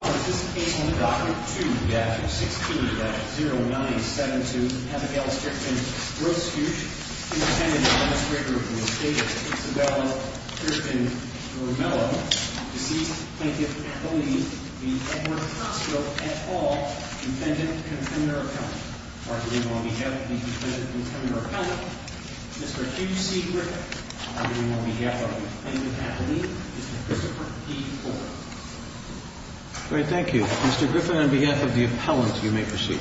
On this case on document 2-16-0972, Abigail Strickland-Grosthuesch, Intendant Administrator for the Estate of Isabella Strickland-Romello, deceased Plaintiff Kathleen v. Edward Hospital, and all Defendant Contender Accountant. Arguing on behalf of the Defendant Contender Accountant, Mr. Hugh C. Griffith. Arguing on behalf of the Defendant Kathleen, Mr. Christopher D. Ford. Thank you. Mr. Griffith, on behalf of the appellant, you may proceed.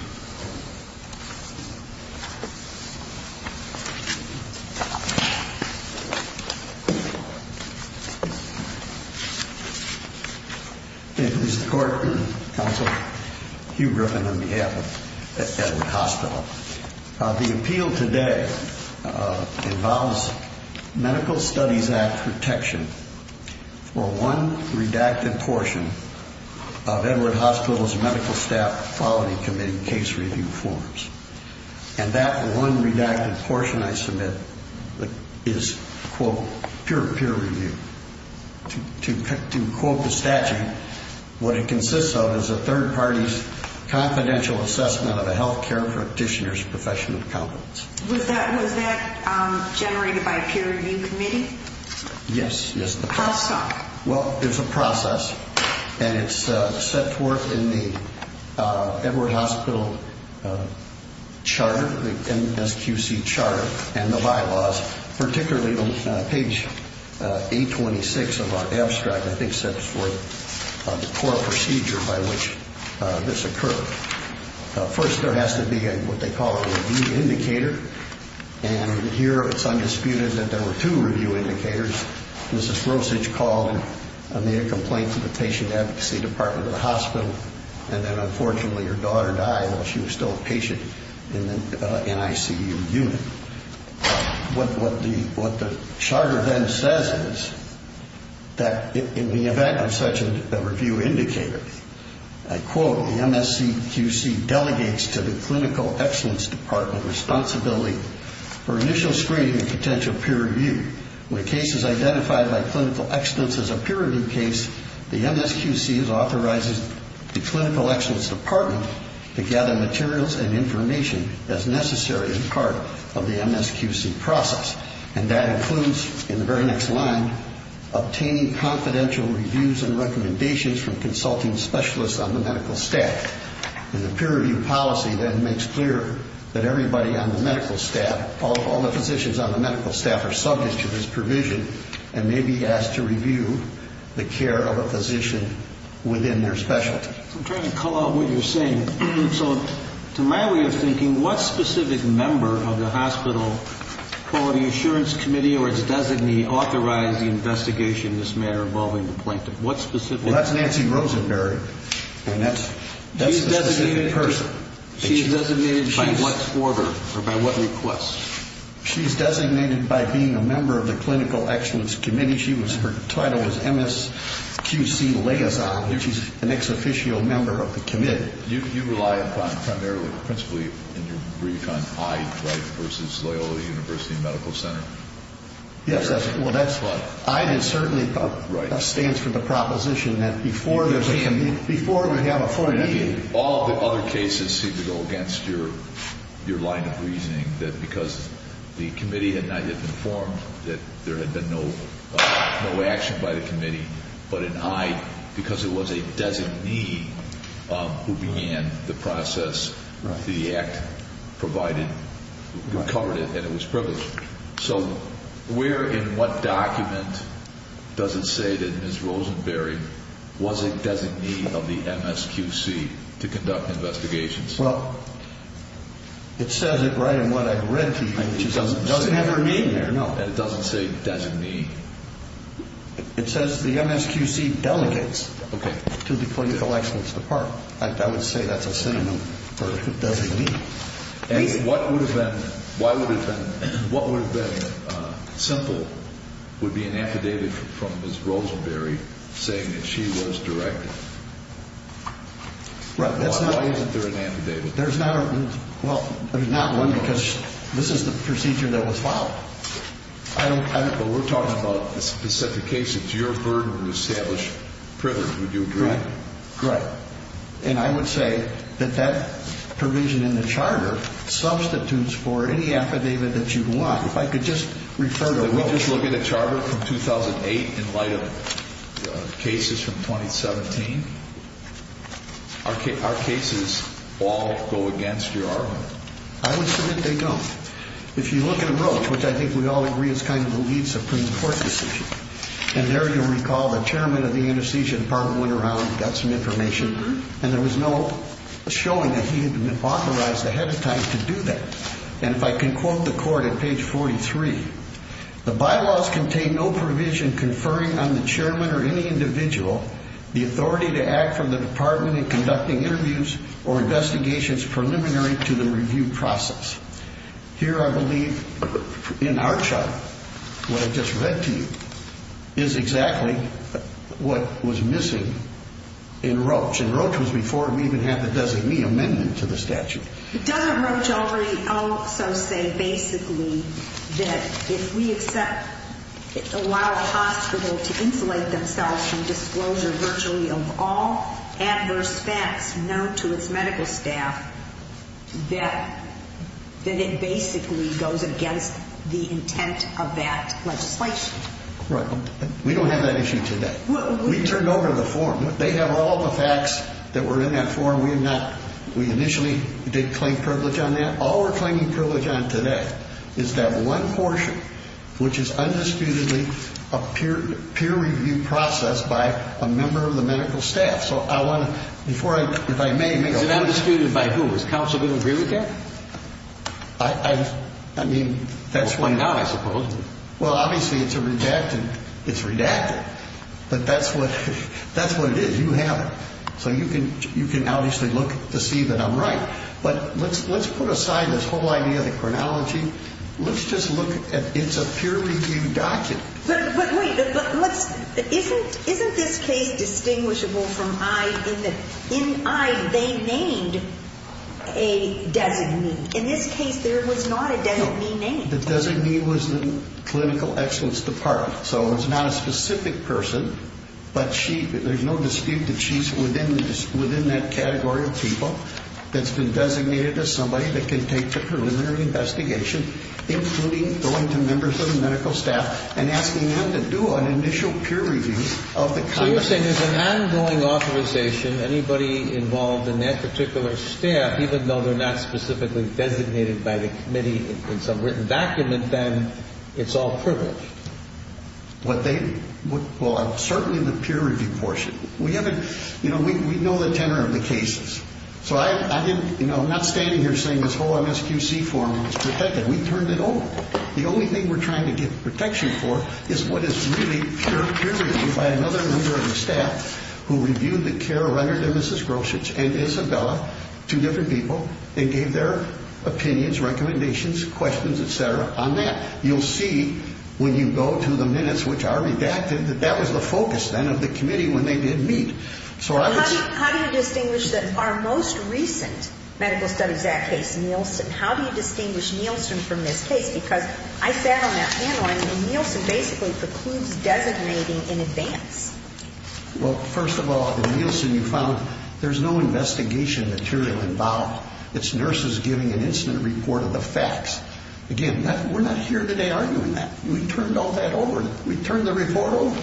Mr. Court, Counsel, Hugh Griffith on behalf of Edward Hospital. The appeal today involves Medical Studies Act protection for one redacted portion of Edward Hospital's Medical Staff Quality Committee case review forms. And that one redacted portion I submit is, quote, pure peer review. To quote the statute, what it consists of is a third party's confidential assessment of a healthcare practitioner's professional competence. Was that generated by a peer review committee? Yes, yes. How so? Well, there's a process, and it's set forth in the Edward Hospital charter, the MSQC charter and the bylaws, particularly on page 826 of our abstract, I think sets forth the core procedure by which this occurred. First, there has to be what they call a review indicator. And here it's undisputed that there were two review indicators. Mrs. Rosich called and made a complaint to the patient advocacy department of the hospital, and then unfortunately her daughter died while she was still a patient in the NICU unit. What the charter then says is that in the event of such a review indicator, I quote, the MSQC delegates to the clinical excellence department responsibility for initial screening and potential peer review. When a case is identified by clinical excellence as a peer review case, the MSQC authorizes the clinical excellence department to gather materials and information as necessary as part of the MSQC process. And that includes, in the very next line, obtaining confidential reviews and recommendations from consulting specialists on the medical staff. And the peer review policy then makes clear that everybody on the medical staff, all the physicians on the medical staff are subject to this provision and may be asked to review the care of a physician within their specialty. I'm trying to call out what you're saying. So to my way of thinking, what specific member of the hospital quality assurance committee authorized the investigation in this matter involving the plaintiff? What specific? Well, that's Nancy Rosenberg, and that's the specific person. She's designated by what order or by what request? She's designated by being a member of the clinical excellence committee. Her title is MSQC liaison. She's an ex-officio member of the committee. You rely primarily, principally, in your brief on IDE, right, versus Loyola University Medical Center? Yes. Well, that's what IDE is certainly about. Right. That stands for the proposition that before there's a committee, before we have a full meeting. All the other cases seem to go against your line of reasoning, that because the committee had not yet been formed, that there had been no action by the committee. But in IDE, because it was a designee who began the process, the act provided, covered it, and it was privileged. So where in what document does it say that Ms. Rosenberg was a designee of the MSQC to conduct investigations? Well, it says it right in what I've read to you. It doesn't have her name there, no. And it doesn't say designee? It says the MSQC delegates to the clinical excellence department. I would say that's a synonym for designee. And what would have been simple would be an affidavit from Ms. Rosenberg saying that she was directed. Right. Why isn't there an affidavit? Well, there's not one because this is the procedure that was filed. Well, we're talking about a specific case. It's your burden to establish privilege, would you agree? Right. And I would say that that provision in the charter substitutes for any affidavit that you want. If I could just refer to a rule. Did we just look at a charter from 2008 in light of cases from 2017? Are cases all go against your argument? I would submit they don't. If you look at a book, which I think we all agree is kind of the lead Supreme Court decision, and there you'll recall the chairman of the anesthesia department went around and got some information, and there was no showing that he had been authorized ahead of time to do that. And if I can quote the court at page 43, the bylaws contain no provision conferring on the chairman or any individual the authority to act from the department in conducting interviews or investigations preliminary to the review process. Here, I believe, in our chart, what I just read to you, is exactly what was missing in Roach. And Roach was before we even had the designee amendment to the statute. Doesn't Roach also say basically that if we allow a hospital to insulate themselves from disclosure virtually of all adverse facts known to its medical staff, that it basically goes against the intent of that legislation? Right. We don't have that issue today. We turned over the form. They have all the facts that were in that form. We initially did claim privilege on that. All we're claiming privilege on today is that one portion, which is undisputedly a peer-reviewed process by a member of the medical staff. So I want to, before I, if I may, make a point. Is it undisputed by who? Does counsel agree with that? I mean, that's what. Or not, I suppose. Well, obviously it's a redacted, it's redacted. But that's what it is. You have it. So you can obviously look to see that I'm right. But let's put aside this whole idea of the chronology. Let's just look at it's a peer-reviewed document. But wait, isn't this case distinguishable from I in that in I they named a designee? In this case there was not a designee named. The designee was the clinical excellence department. So it's not a specific person. But she, there's no dispute that she's within that category of people that's been designated as somebody that can take the preliminary investigation, including going to members of the medical staff and asking them to do an initial peer review of the conduct. So you're saying there's an ongoing authorization. Anybody involved in that particular staff, even though they're not specifically designated by the committee in some written document, then it's all privilege. What they, well, certainly the peer review portion. We haven't, you know, we know the tenor of the cases. So I didn't, you know, I'm not standing here saying this whole MSQC forum is protected. We turned it over. The only thing we're trying to get protection for is what is really peer-reviewed by another member of the staff who reviewed the care rendered to Mrs. Groshich and Isabella, two different people, and gave their opinions, recommendations, questions, et cetera, on that. You'll see when you go to the minutes, which are redacted, that that was the focus then of the committee when they did meet. So I was... How do you distinguish our most recent Medical Studies Act case, Nielsen? How do you distinguish Nielsen from this case? Because I sat on that panel, and Nielsen basically precludes designating in advance. Well, first of all, in Nielsen you found there's no investigation material involved. It's nurses giving an incident report of the facts. Again, we're not here today arguing that. We turned all that over. We turned the report over.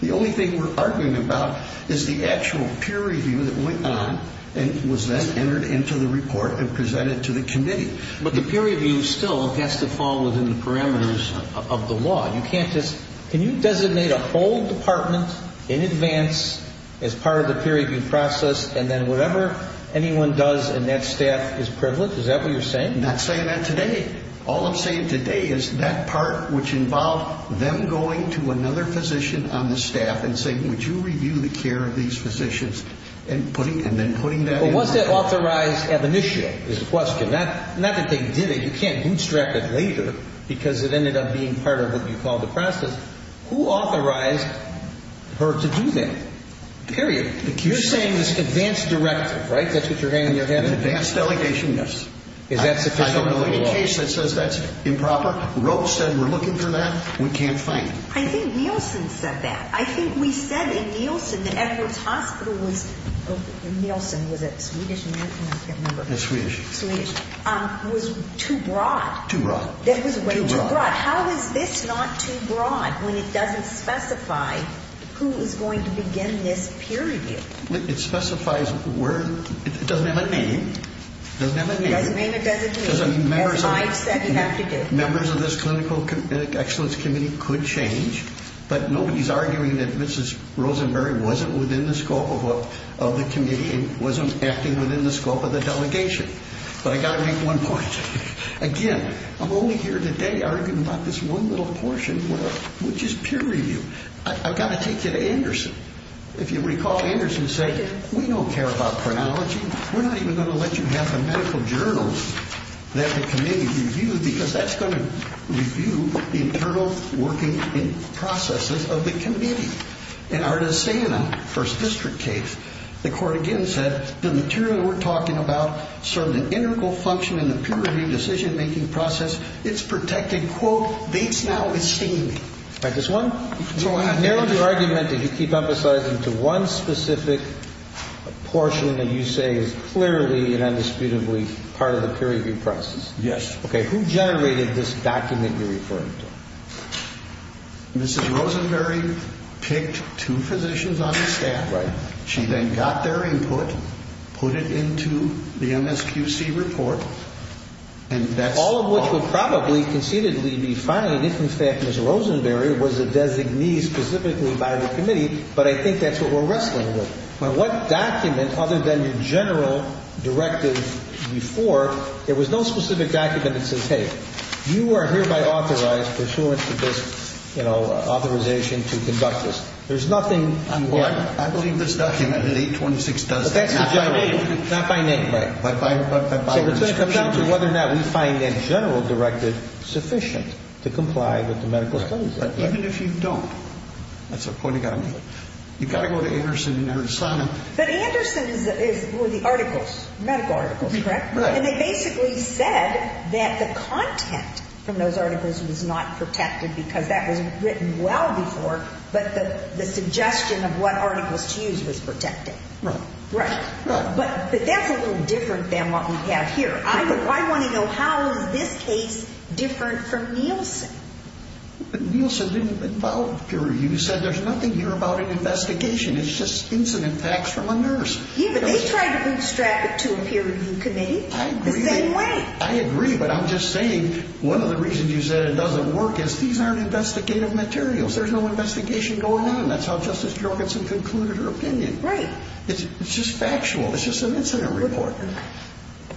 The only thing we're arguing about is the actual peer review that went on and was then entered into the report and presented to the committee. But the peer review still has to fall within the parameters of the law. You can't just... Can you designate a whole department in advance as part of the peer review process, and then whatever anyone does in that staff is privileged? Is that what you're saying? I'm not saying that today. All I'm saying today is that part which involved them going to another physician on the staff and saying, Would you review the care of these physicians? And then putting that in the report. But was that authorized at the initial? That's the question. Not that they did it. You can't bootstrap it later because it ended up being part of what you call the process. Who authorized her to do that? Period. You're saying it's an advanced directive, right? That's what you're saying in your hand? An advanced delegation, yes. I don't know any case that says that's improper. Roche said we're looking for that. We can't find it. I think Nielsen said that. I think we said in Nielsen that Edwards Hospital was... Nielsen, was it? Swedish? I can't remember. It was Swedish. Swedish. Was too broad. Too broad. That was way too broad. How is this not too broad when it doesn't specify who is going to begin this peer review? It specifies where... It doesn't have a name. It doesn't have a name. It doesn't mean it doesn't mean. It's a science that you have to do. Members of this Clinical Excellence Committee could change, but nobody's arguing that Mrs. Rosenberry wasn't within the scope of the committee and wasn't acting within the scope of the delegation. But I've got to make one point. Again, I'm only here today arguing about this one little portion, which is peer review. I've got to take you to Anderson. If you recall, Anderson said, We don't care about chronology. We're not even going to let you have the medical journals that the committee reviewed because that's going to review the internal working processes of the committee. In our DeSana First District case, the court again said, The material we're talking about served an integral function in the peer review decision-making process. It's protected, quote, based now with staining. All right. This one narrowed your argument that you keep emphasizing to one specific portion that you say is clearly and indisputably part of the peer review process. Yes. Okay. Who generated this document you're referring to? Mrs. Rosenberry picked two physicians on the staff. Right. She then got their input, put it into the MSQC report, and that's all of it. The court will probably concededly be fine if, in fact, Mrs. Rosenberry was a designee specifically by the committee, but I think that's what we're wrestling with. Now, what document other than your general directive before, there was no specific document that says, Hey, you are hereby authorized pursuant to this, you know, authorization to conduct this. There's nothing you have. I believe this document at 826 does that. Not by name. Not by name, right. So it comes down to whether or not we find that general directive sufficient to comply with the medical studies. Even if you don't, that's a point you've got to make. You've got to go to Anderson and understand. But Anderson is for the articles, medical articles, correct? And they basically said that the content from those articles was not protected because that was written well before, but the suggestion of what articles to use was protected. Right. Right. But that's a little different than what we have here. I want to know how is this case different from Nielsen? Nielsen didn't involve peer review. You said there's nothing here about an investigation. It's just incident facts from a nurse. Yeah, but they tried to bootstrap it to a peer review committee the same way. I agree, but I'm just saying one of the reasons you said it doesn't work is these aren't investigative materials. There's no investigation going on. That's how Justice Jorgensen concluded her opinion. Right. It's just factual. It's just an incident report.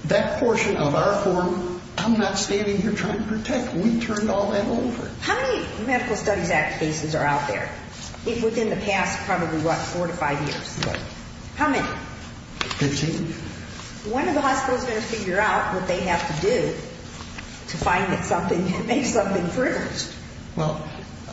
That portion of our form, I'm not standing here trying to protect. We turned all that over. How many Medical Studies Act cases are out there, if within the past probably, what, four to five years? Right. How many? Fifteen. When are the hospitals going to figure out what they have to do to find something and make something first? Well.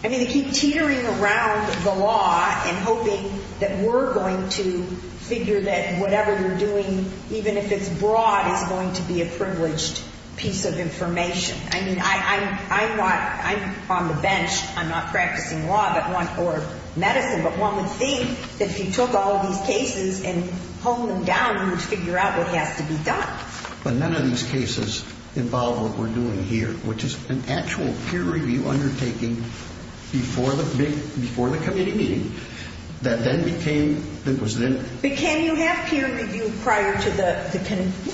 I mean, they keep teetering around the law and hoping that we're going to figure that whatever we're doing, even if it's broad, is going to be a privileged piece of information. I mean, I'm on the bench. I'm not practicing law or medicine, but one would think that if you took all these cases and honed them down, you would figure out what has to be done. But none of these cases involve what we're doing here, which is an actual peer review undertaking before the committee meeting. But can you have peer review prior to the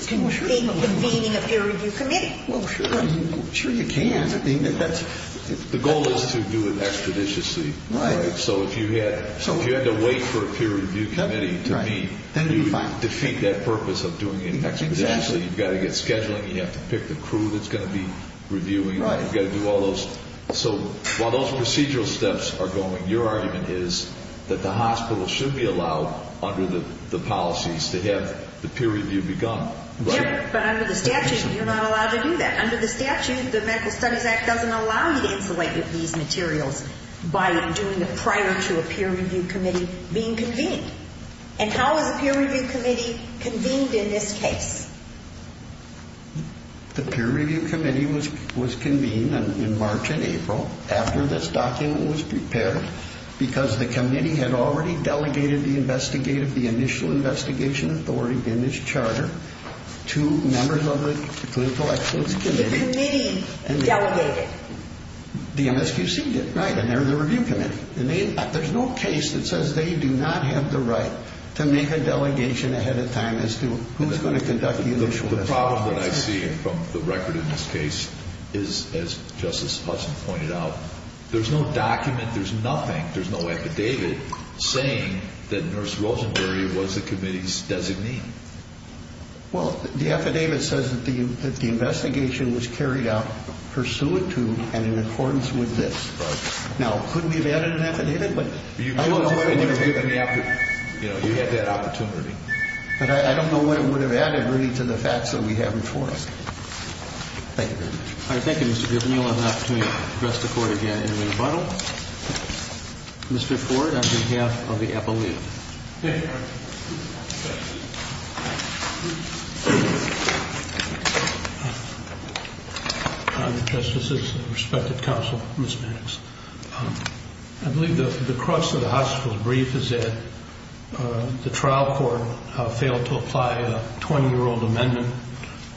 convening of peer review committee? Well, sure. Sure you can. The goal is to do it expeditiously. Right. So if you had to wait for a peer review committee to meet, you would defeat that purpose of doing it expeditiously. You've got to get scheduling. You have to pick the crew that's going to be reviewing. Right. You've got to do all those. So while those procedural steps are going, your argument is that the hospital should be allowed under the policies to have the peer review begun. Yeah, but under the statute, you're not allowed to do that. Under the statute, the Medical Studies Act doesn't allow you to insulate with these materials by doing it prior to a peer review committee being convened. And how is a peer review committee convened in this case? The peer review committee was convened in March and April after this document was prepared because the committee had already delegated the initial investigation authority in this charter to members of the Clinical Excellence Committee. The committee delegated. The MSQC did. Right, and they're the review committee. There's no case that says they do not have the right to make a delegation ahead of time as to who's going to conduct the initial investigation. The problem that I see from the record in this case is, as Justice Hudson pointed out, there's no document, there's nothing, there's no affidavit saying that Nurse Rosenberry was the committee's designee. Well, the affidavit says that the investigation was carried out pursuant to and in accordance with this. Right. Now, couldn't we have added an affidavit? You know, you had that opportunity. But I don't know what it would have added really to the facts that we have before us. Thank you very much. All right, thank you, Mr. Griffin. You'll have an opportunity to address the Court again in rebuttal. Mr. Ford, on behalf of the Appalooh. Thank you, Your Honor. Your Honor, Justices, respected counsel, Ms. Banks, I believe the crux of the hospital's grief is that the trial court failed to apply a 20-year-old amendment,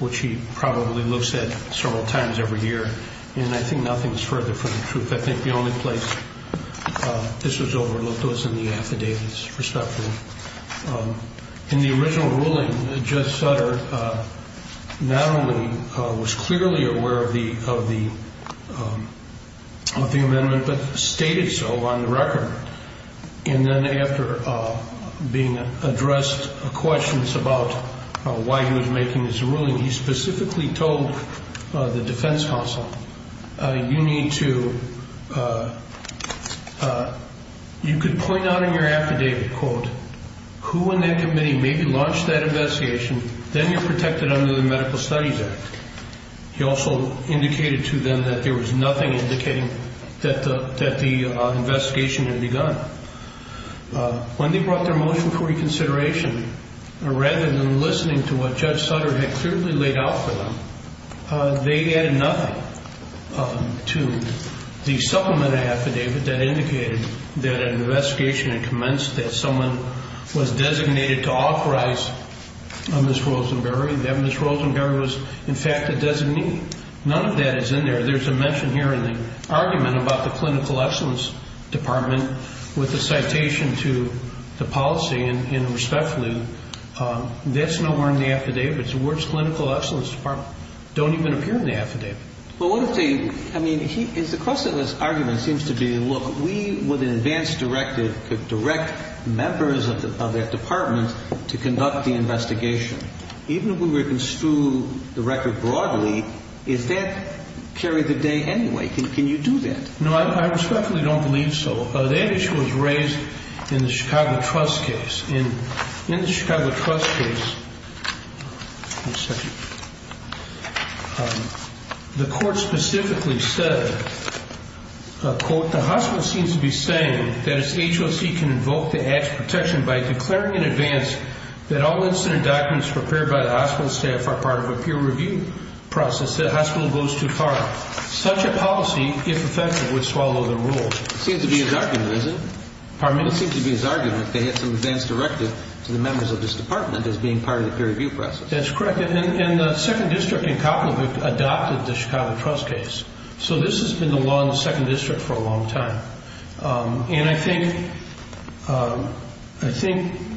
which he probably looks at several times every year. And I think nothing's further from the truth. I think the only place this was overlooked was in the affidavits, respectfully. In the original ruling, Judge Sutter not only was clearly aware of the amendment but stated so on the record. And then after being addressed questions about why he was making this ruling, he specifically told the defense counsel, you need to, you could point out in your affidavit, quote, who in that committee maybe launched that investigation, then you're protected under the Medical Studies Act. He also indicated to them that there was nothing indicating that the investigation had begun. When they brought their motion for reconsideration, rather than listening to what Judge Sutter had clearly laid out for them, they added nothing to the supplement affidavit that indicated that an investigation had commenced, that someone was designated to authorize Ms. Rosenberry, that Ms. Rosenberry was, in fact, a designee. None of that is in there. There's a mention here in the argument about the Clinical Excellence Department with a citation to the policy, and respectfully, that's nowhere in the affidavit. The words Clinical Excellence Department don't even appear in the affidavit. Well, what if they, I mean, the crux of this argument seems to be, look, we with an advance directive could direct members of that department to conduct the investigation. Even if we were to construe the record broadly, if that carried the day anyway, can you do that? No, I respectfully don't believe so. The issue was raised in the Chicago Trust case. In the Chicago Trust case, the court specifically said, quote, the hospital seems to be saying that its HOC can invoke the act's protection by declaring in advance that all incident documents prepared by the hospital staff are part of a peer review process. The hospital goes too far. Such a policy, if effective, would swallow the rules. Seems to be his argument, isn't it? Pardon me? It would seem to be his argument if they had some advance directive to the members of this department as being part of the peer review process. That's correct. And the 2nd District in Copeland adopted the Chicago Trust case. So this has been the law in the 2nd District for a long time. And I think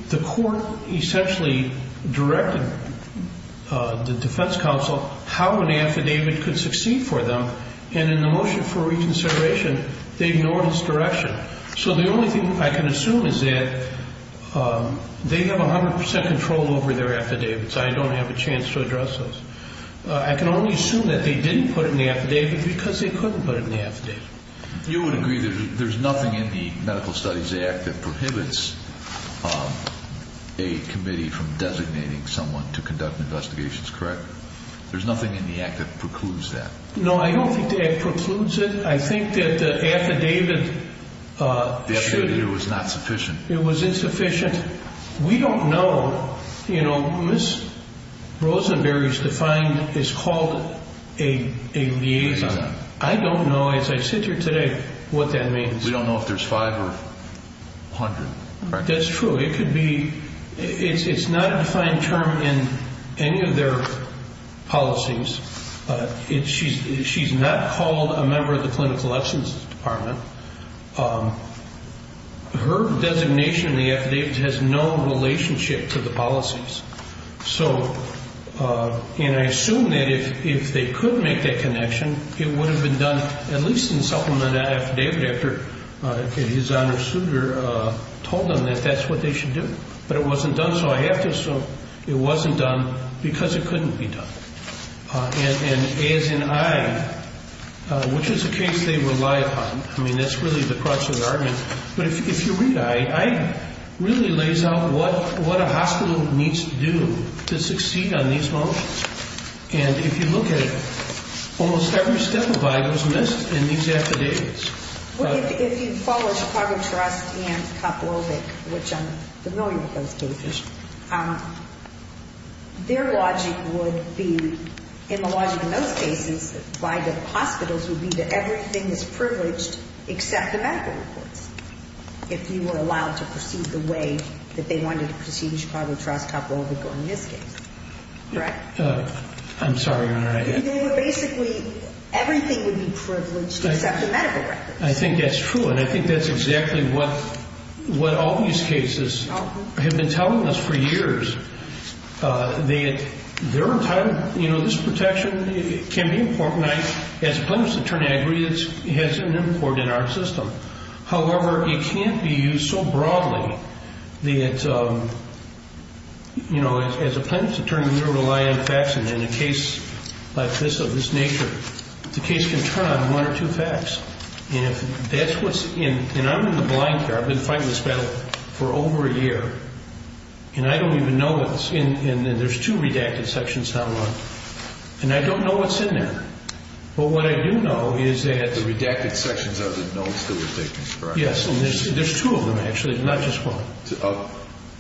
the court essentially directed the defense counsel how an affidavit could succeed for them. And in the motion for reconsideration, they ignored its direction. So the only thing I can assume is that they have 100% control over their affidavits. I don't have a chance to address those. I can only assume that they didn't put it in the affidavit because they couldn't put it in the affidavit. You would agree that there's nothing in the Medical Studies Act that prohibits a committee from designating someone to conduct investigations, correct? There's nothing in the act that precludes that. No, I don't think the act precludes it. I think that the affidavit should be. The affidavit was not sufficient. It was insufficient. We don't know. You know, Ms. Rosenberry's defined is called a liaison. I don't know, as I sit here today, what that means. We don't know if there's 5 or 100. That's true. It could be. It's not a defined term in any of their policies. She's not called a member of the clinical lessons department. Her designation in the affidavit has no relationship to the policies. And I assume that if they could make that connection, it would have been done, at least in supplement to that affidavit after his honor suitor told them that that's what they should do. But it wasn't done, so I have to assume it wasn't done because it couldn't be done. And as in I, which is a case they rely upon. I mean, that's really the crux of the argument. But if you read I, I really lays out what a hospital needs to do to succeed on these motions. And if you look at it, almost every step of I was missed in these affidavits. If you follow Chicago trust and couple of it, which I'm familiar with those cases. Their logic would be in the logic of those cases, why the hospitals would be that everything is privileged except the medical reports. If you were allowed to proceed the way that they wanted to proceed, Chicago trust couple of this case. Right. I'm sorry. Basically, everything would be privileged except the medical records. I think that's true. And I think that's exactly what, what all these cases have been telling us for years. They, their entire, you know, this protection can be important. As a plaintiff's attorney, I agree it has an important in our system. However, it can't be used so broadly that, you know, as a plaintiff's attorney, you're relying on facts. And in a case like this, of this nature, the case can turn on one or two facts. And if that's what's in, and I'm in the blind here. I've been fighting this battle for over a year. And I don't even know what's in, and there's two redacted sections now on. And I don't know what's in there. But what I do know is that. The redacted sections are the notes that we're taking, correct? Yes. And there's two of them actually, not just one.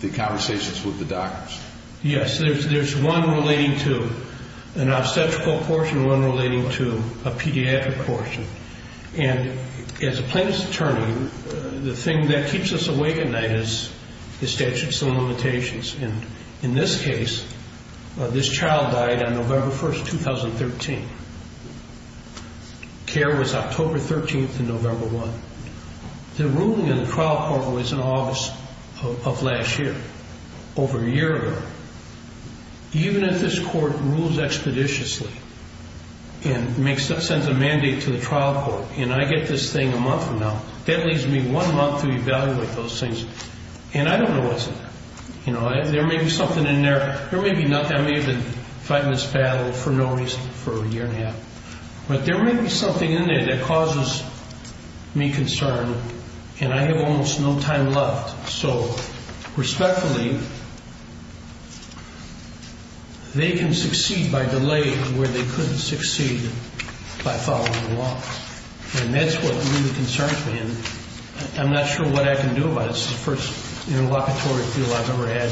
The conversations with the doctors. Yes, there's one relating to an obstetrical portion, one relating to a pediatric portion. And as a plaintiff's attorney, the thing that keeps us awake at night is the statute of limitations. And in this case, this child died on November 1st, 2013. Care was October 13th and November 1. The ruling in the trial court was in August of last year, over a year ago. Even if this court rules expeditiously and sends a mandate to the trial court, and I get this thing a month from now, that leaves me one month to evaluate those things. And I don't know what's in there. There may be something in there. There may be nothing. I may have been fighting this battle for no reason for a year and a half. But there may be something in there that causes me concern, and I have almost no time left. So respectfully, they can succeed by delaying where they couldn't succeed by following the law. And that's what really concerns me. And I'm not sure what I can do about it. It's the first interlocutory appeal I've ever had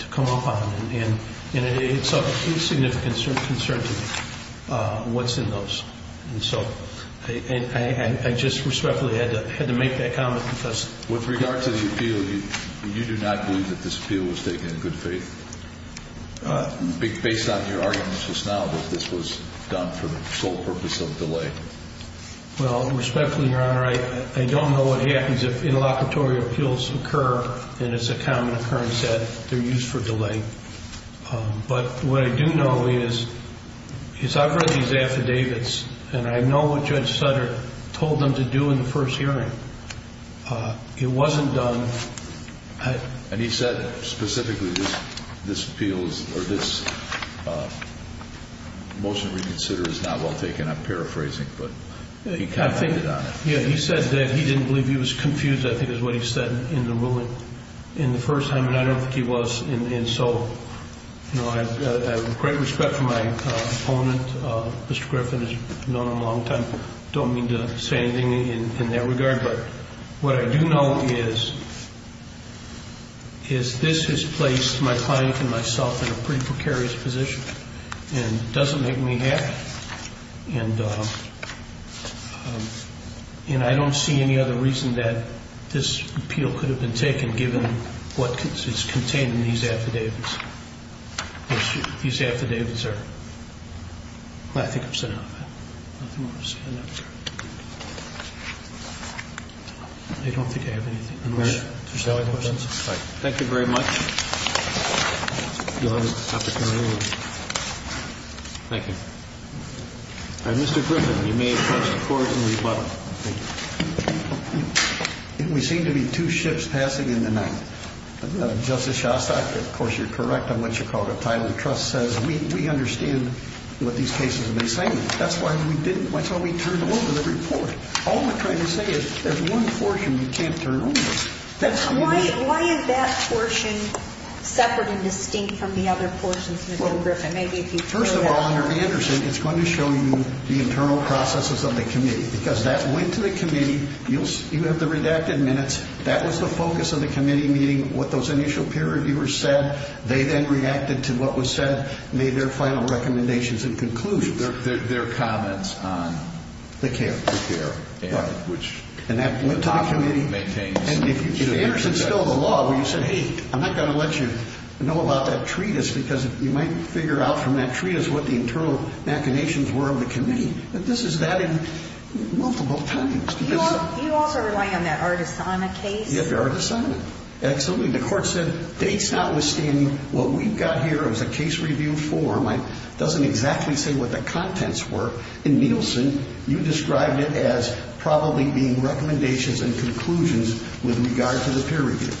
to come up on. And it's of significant concern to me, what's in those. And so I just respectfully had to make that comment because With regard to the appeal, you do not believe that this appeal was taken in good faith, based on your arguments just now that this was done for the sole purpose of delay. Well, respectfully, Your Honor, I don't know what happens if interlocutory appeals occur, and it's a common occurrence that they're used for delay. But what I do know is I've read these affidavits, and I know what Judge Sutter told them to do in the first hearing. It wasn't done. And he said specifically this motion to reconsider is not well taken. I'm paraphrasing, but he commented on it. Yeah, he said that he didn't believe he was confused, I think is what he said in the ruling, in the first time, and I don't think he was. And so I have great respect for my opponent. Mr. Griffin has known him a long time. I don't mean to say anything in that regard. But what I do know is this has placed my client and myself in a pretty precarious position and doesn't make me happy. And I don't see any other reason that this appeal could have been taken, given what is contained in these affidavits. These affidavits are ñ well, I think I've said enough. I don't think I have anything more to say. Thank you very much. You'll have to turn it over. Thank you. All right, Mr. Griffin, you may approach the Court in rebuttal. Thank you. We seem to be two ships passing in the night. Justice Shostak, of course, you're correct on what you called a tidal truss. We understand what these cases have been saying. That's why we didn't ñ that's why we turned over the report. All we're trying to say is there's one portion we can't turn over. Why is that portion separate and distinct from the other portions, Mr. Griffin? First of all, under Anderson, it's going to show you the internal processes of the committee. Because that went to the committee. You have the redacted minutes. That was the focus of the committee meeting, what those initial peer reviewers said. They then reacted to what was said, made their final recommendations and conclusions. Their comments on the care. And that went to the committee. And if Anderson spilled the law where you said, hey, I'm not going to let you know about that treatise because you might figure out from that treatise what the internal machinations were of the committee. This is that in multiple times. Do you also rely on that Artisana case? You have Artisana. Absolutely. The Court said, based on what we've got here as a case review form, it doesn't exactly say what the contents were. In Nielsen, you described it as probably being recommendations and conclusions with regard to the peer review,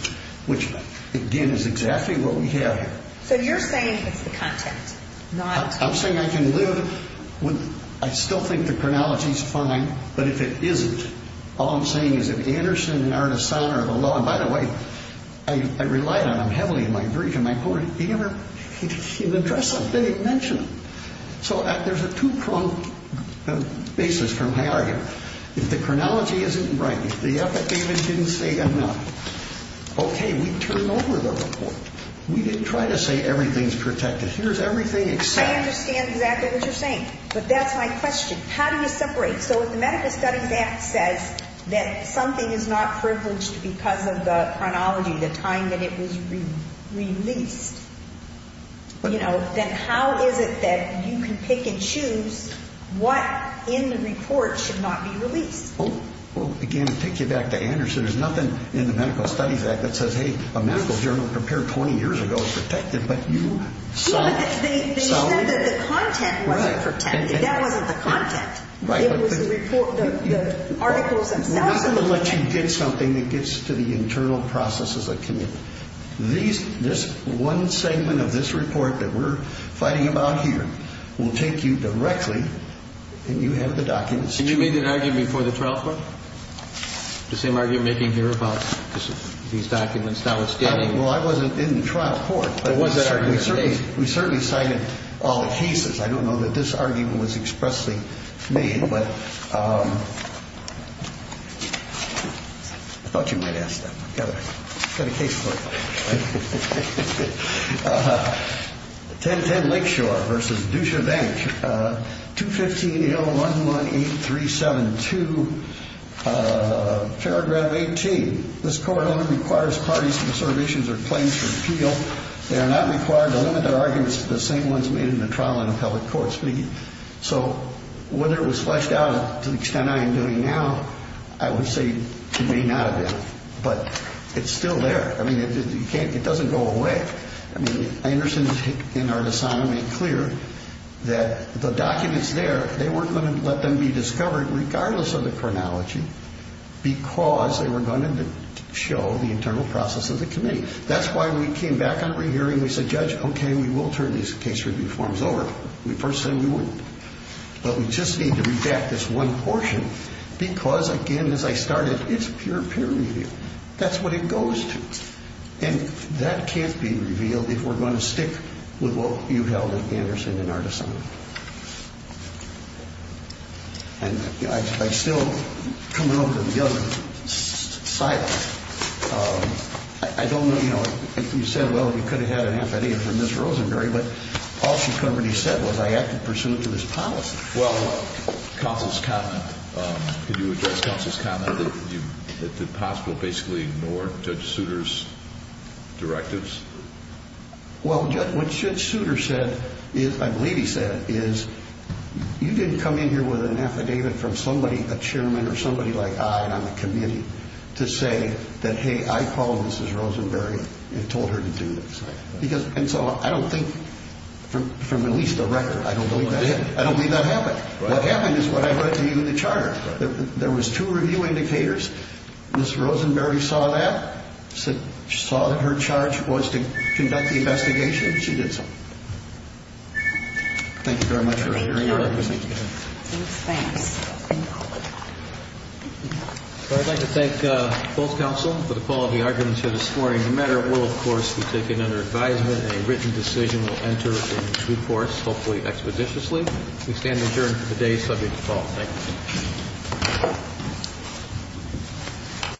which, again, is exactly what we have here. So you're saying it's the content. I'm saying I can live with – I still think the chronology is fine. But if it isn't, all I'm saying is if Anderson and Artisana are the law – and by the way, I relied on them heavily in my brief and my court. They never address them. They didn't mention them. So there's a two-pronged basis from my argument. If the chronology isn't right, if the epitaph didn't say enough, okay, we turned over the report. We didn't try to say everything's protected. Here's everything except. I understand exactly what you're saying. But that's my question. How do you separate? So if the Medical Studies Act says that something is not privileged because of the chronology, the time that it was released, you know, then how is it that you can pick and choose what in the report should not be released? Well, again, to take you back to Anderson, there's nothing in the Medical Studies Act that says, hey, a medical journal prepared 20 years ago is protected. But you saw – They said that the content wasn't protected. That wasn't the content. It was the report – the articles themselves. I'm not going to let you get something that gets to the internal processes of community. This one segment of this report that we're fighting about here will take you directly, and you have the documents. And you made that argument before the trial court? The same argument you're making here about these documents, now it's getting – Well, I wasn't in the trial court. There was that argument. We certainly cited all the cases. I don't know that this argument was expressly made, but I thought you might ask that. I've got a case for you. 1010 Lakeshore v. Dusha Bank, 215-011-8372, paragraph 18. This court only requires parties whose observations are claims to appeal. They are not required to limit their arguments to the same ones made in the trial and appellate courts. So whether it was fleshed out to the extent I am doing now, I would say it may not have been. But it's still there. I mean, it doesn't go away. I mean, Anderson and Artisano made clear that the documents there, they weren't going to let them be discovered regardless of the chronology because they were going to show the internal process of the committee. That's why we came back on re-hearing. We said, Judge, okay, we will turn these case review forms over. We first said we wouldn't. But we just need to redact this one portion because, again, as I started, it's pure peer review. That's what it goes to. And that can't be revealed if we're going to stick with what you held at Anderson and Artisano. And I still come out of the other side. I don't know if you said, well, you could have had an affidavit from Ms. Rosenberry, but all she covered, he said, was I acted pursuant to his policy. Well, counsel's comment. Could you address counsel's comment that it's impossible to basically ignore Judge Souter's directives? Well, what Judge Souter said, I believe he said, is you didn't come in here with an affidavit from somebody, a chairman or somebody like I, on a committee, to say that, hey, I called Mrs. Rosenberry and told her to do this. And so I don't think, from at least the record, I don't believe that. I don't believe that happened. What happened is what I read to you in the charter. There was two review indicators. Ms. Rosenberry saw that, saw that her charge was to conduct the investigation. She did so. Thank you very much for your hearing. So I'd like to thank both counsel for the quality arguments here this morning. No matter what course we take it under advisement, a written decision will enter into force, hopefully expositiously. We stand adjourned for the day subject to call. Thank you.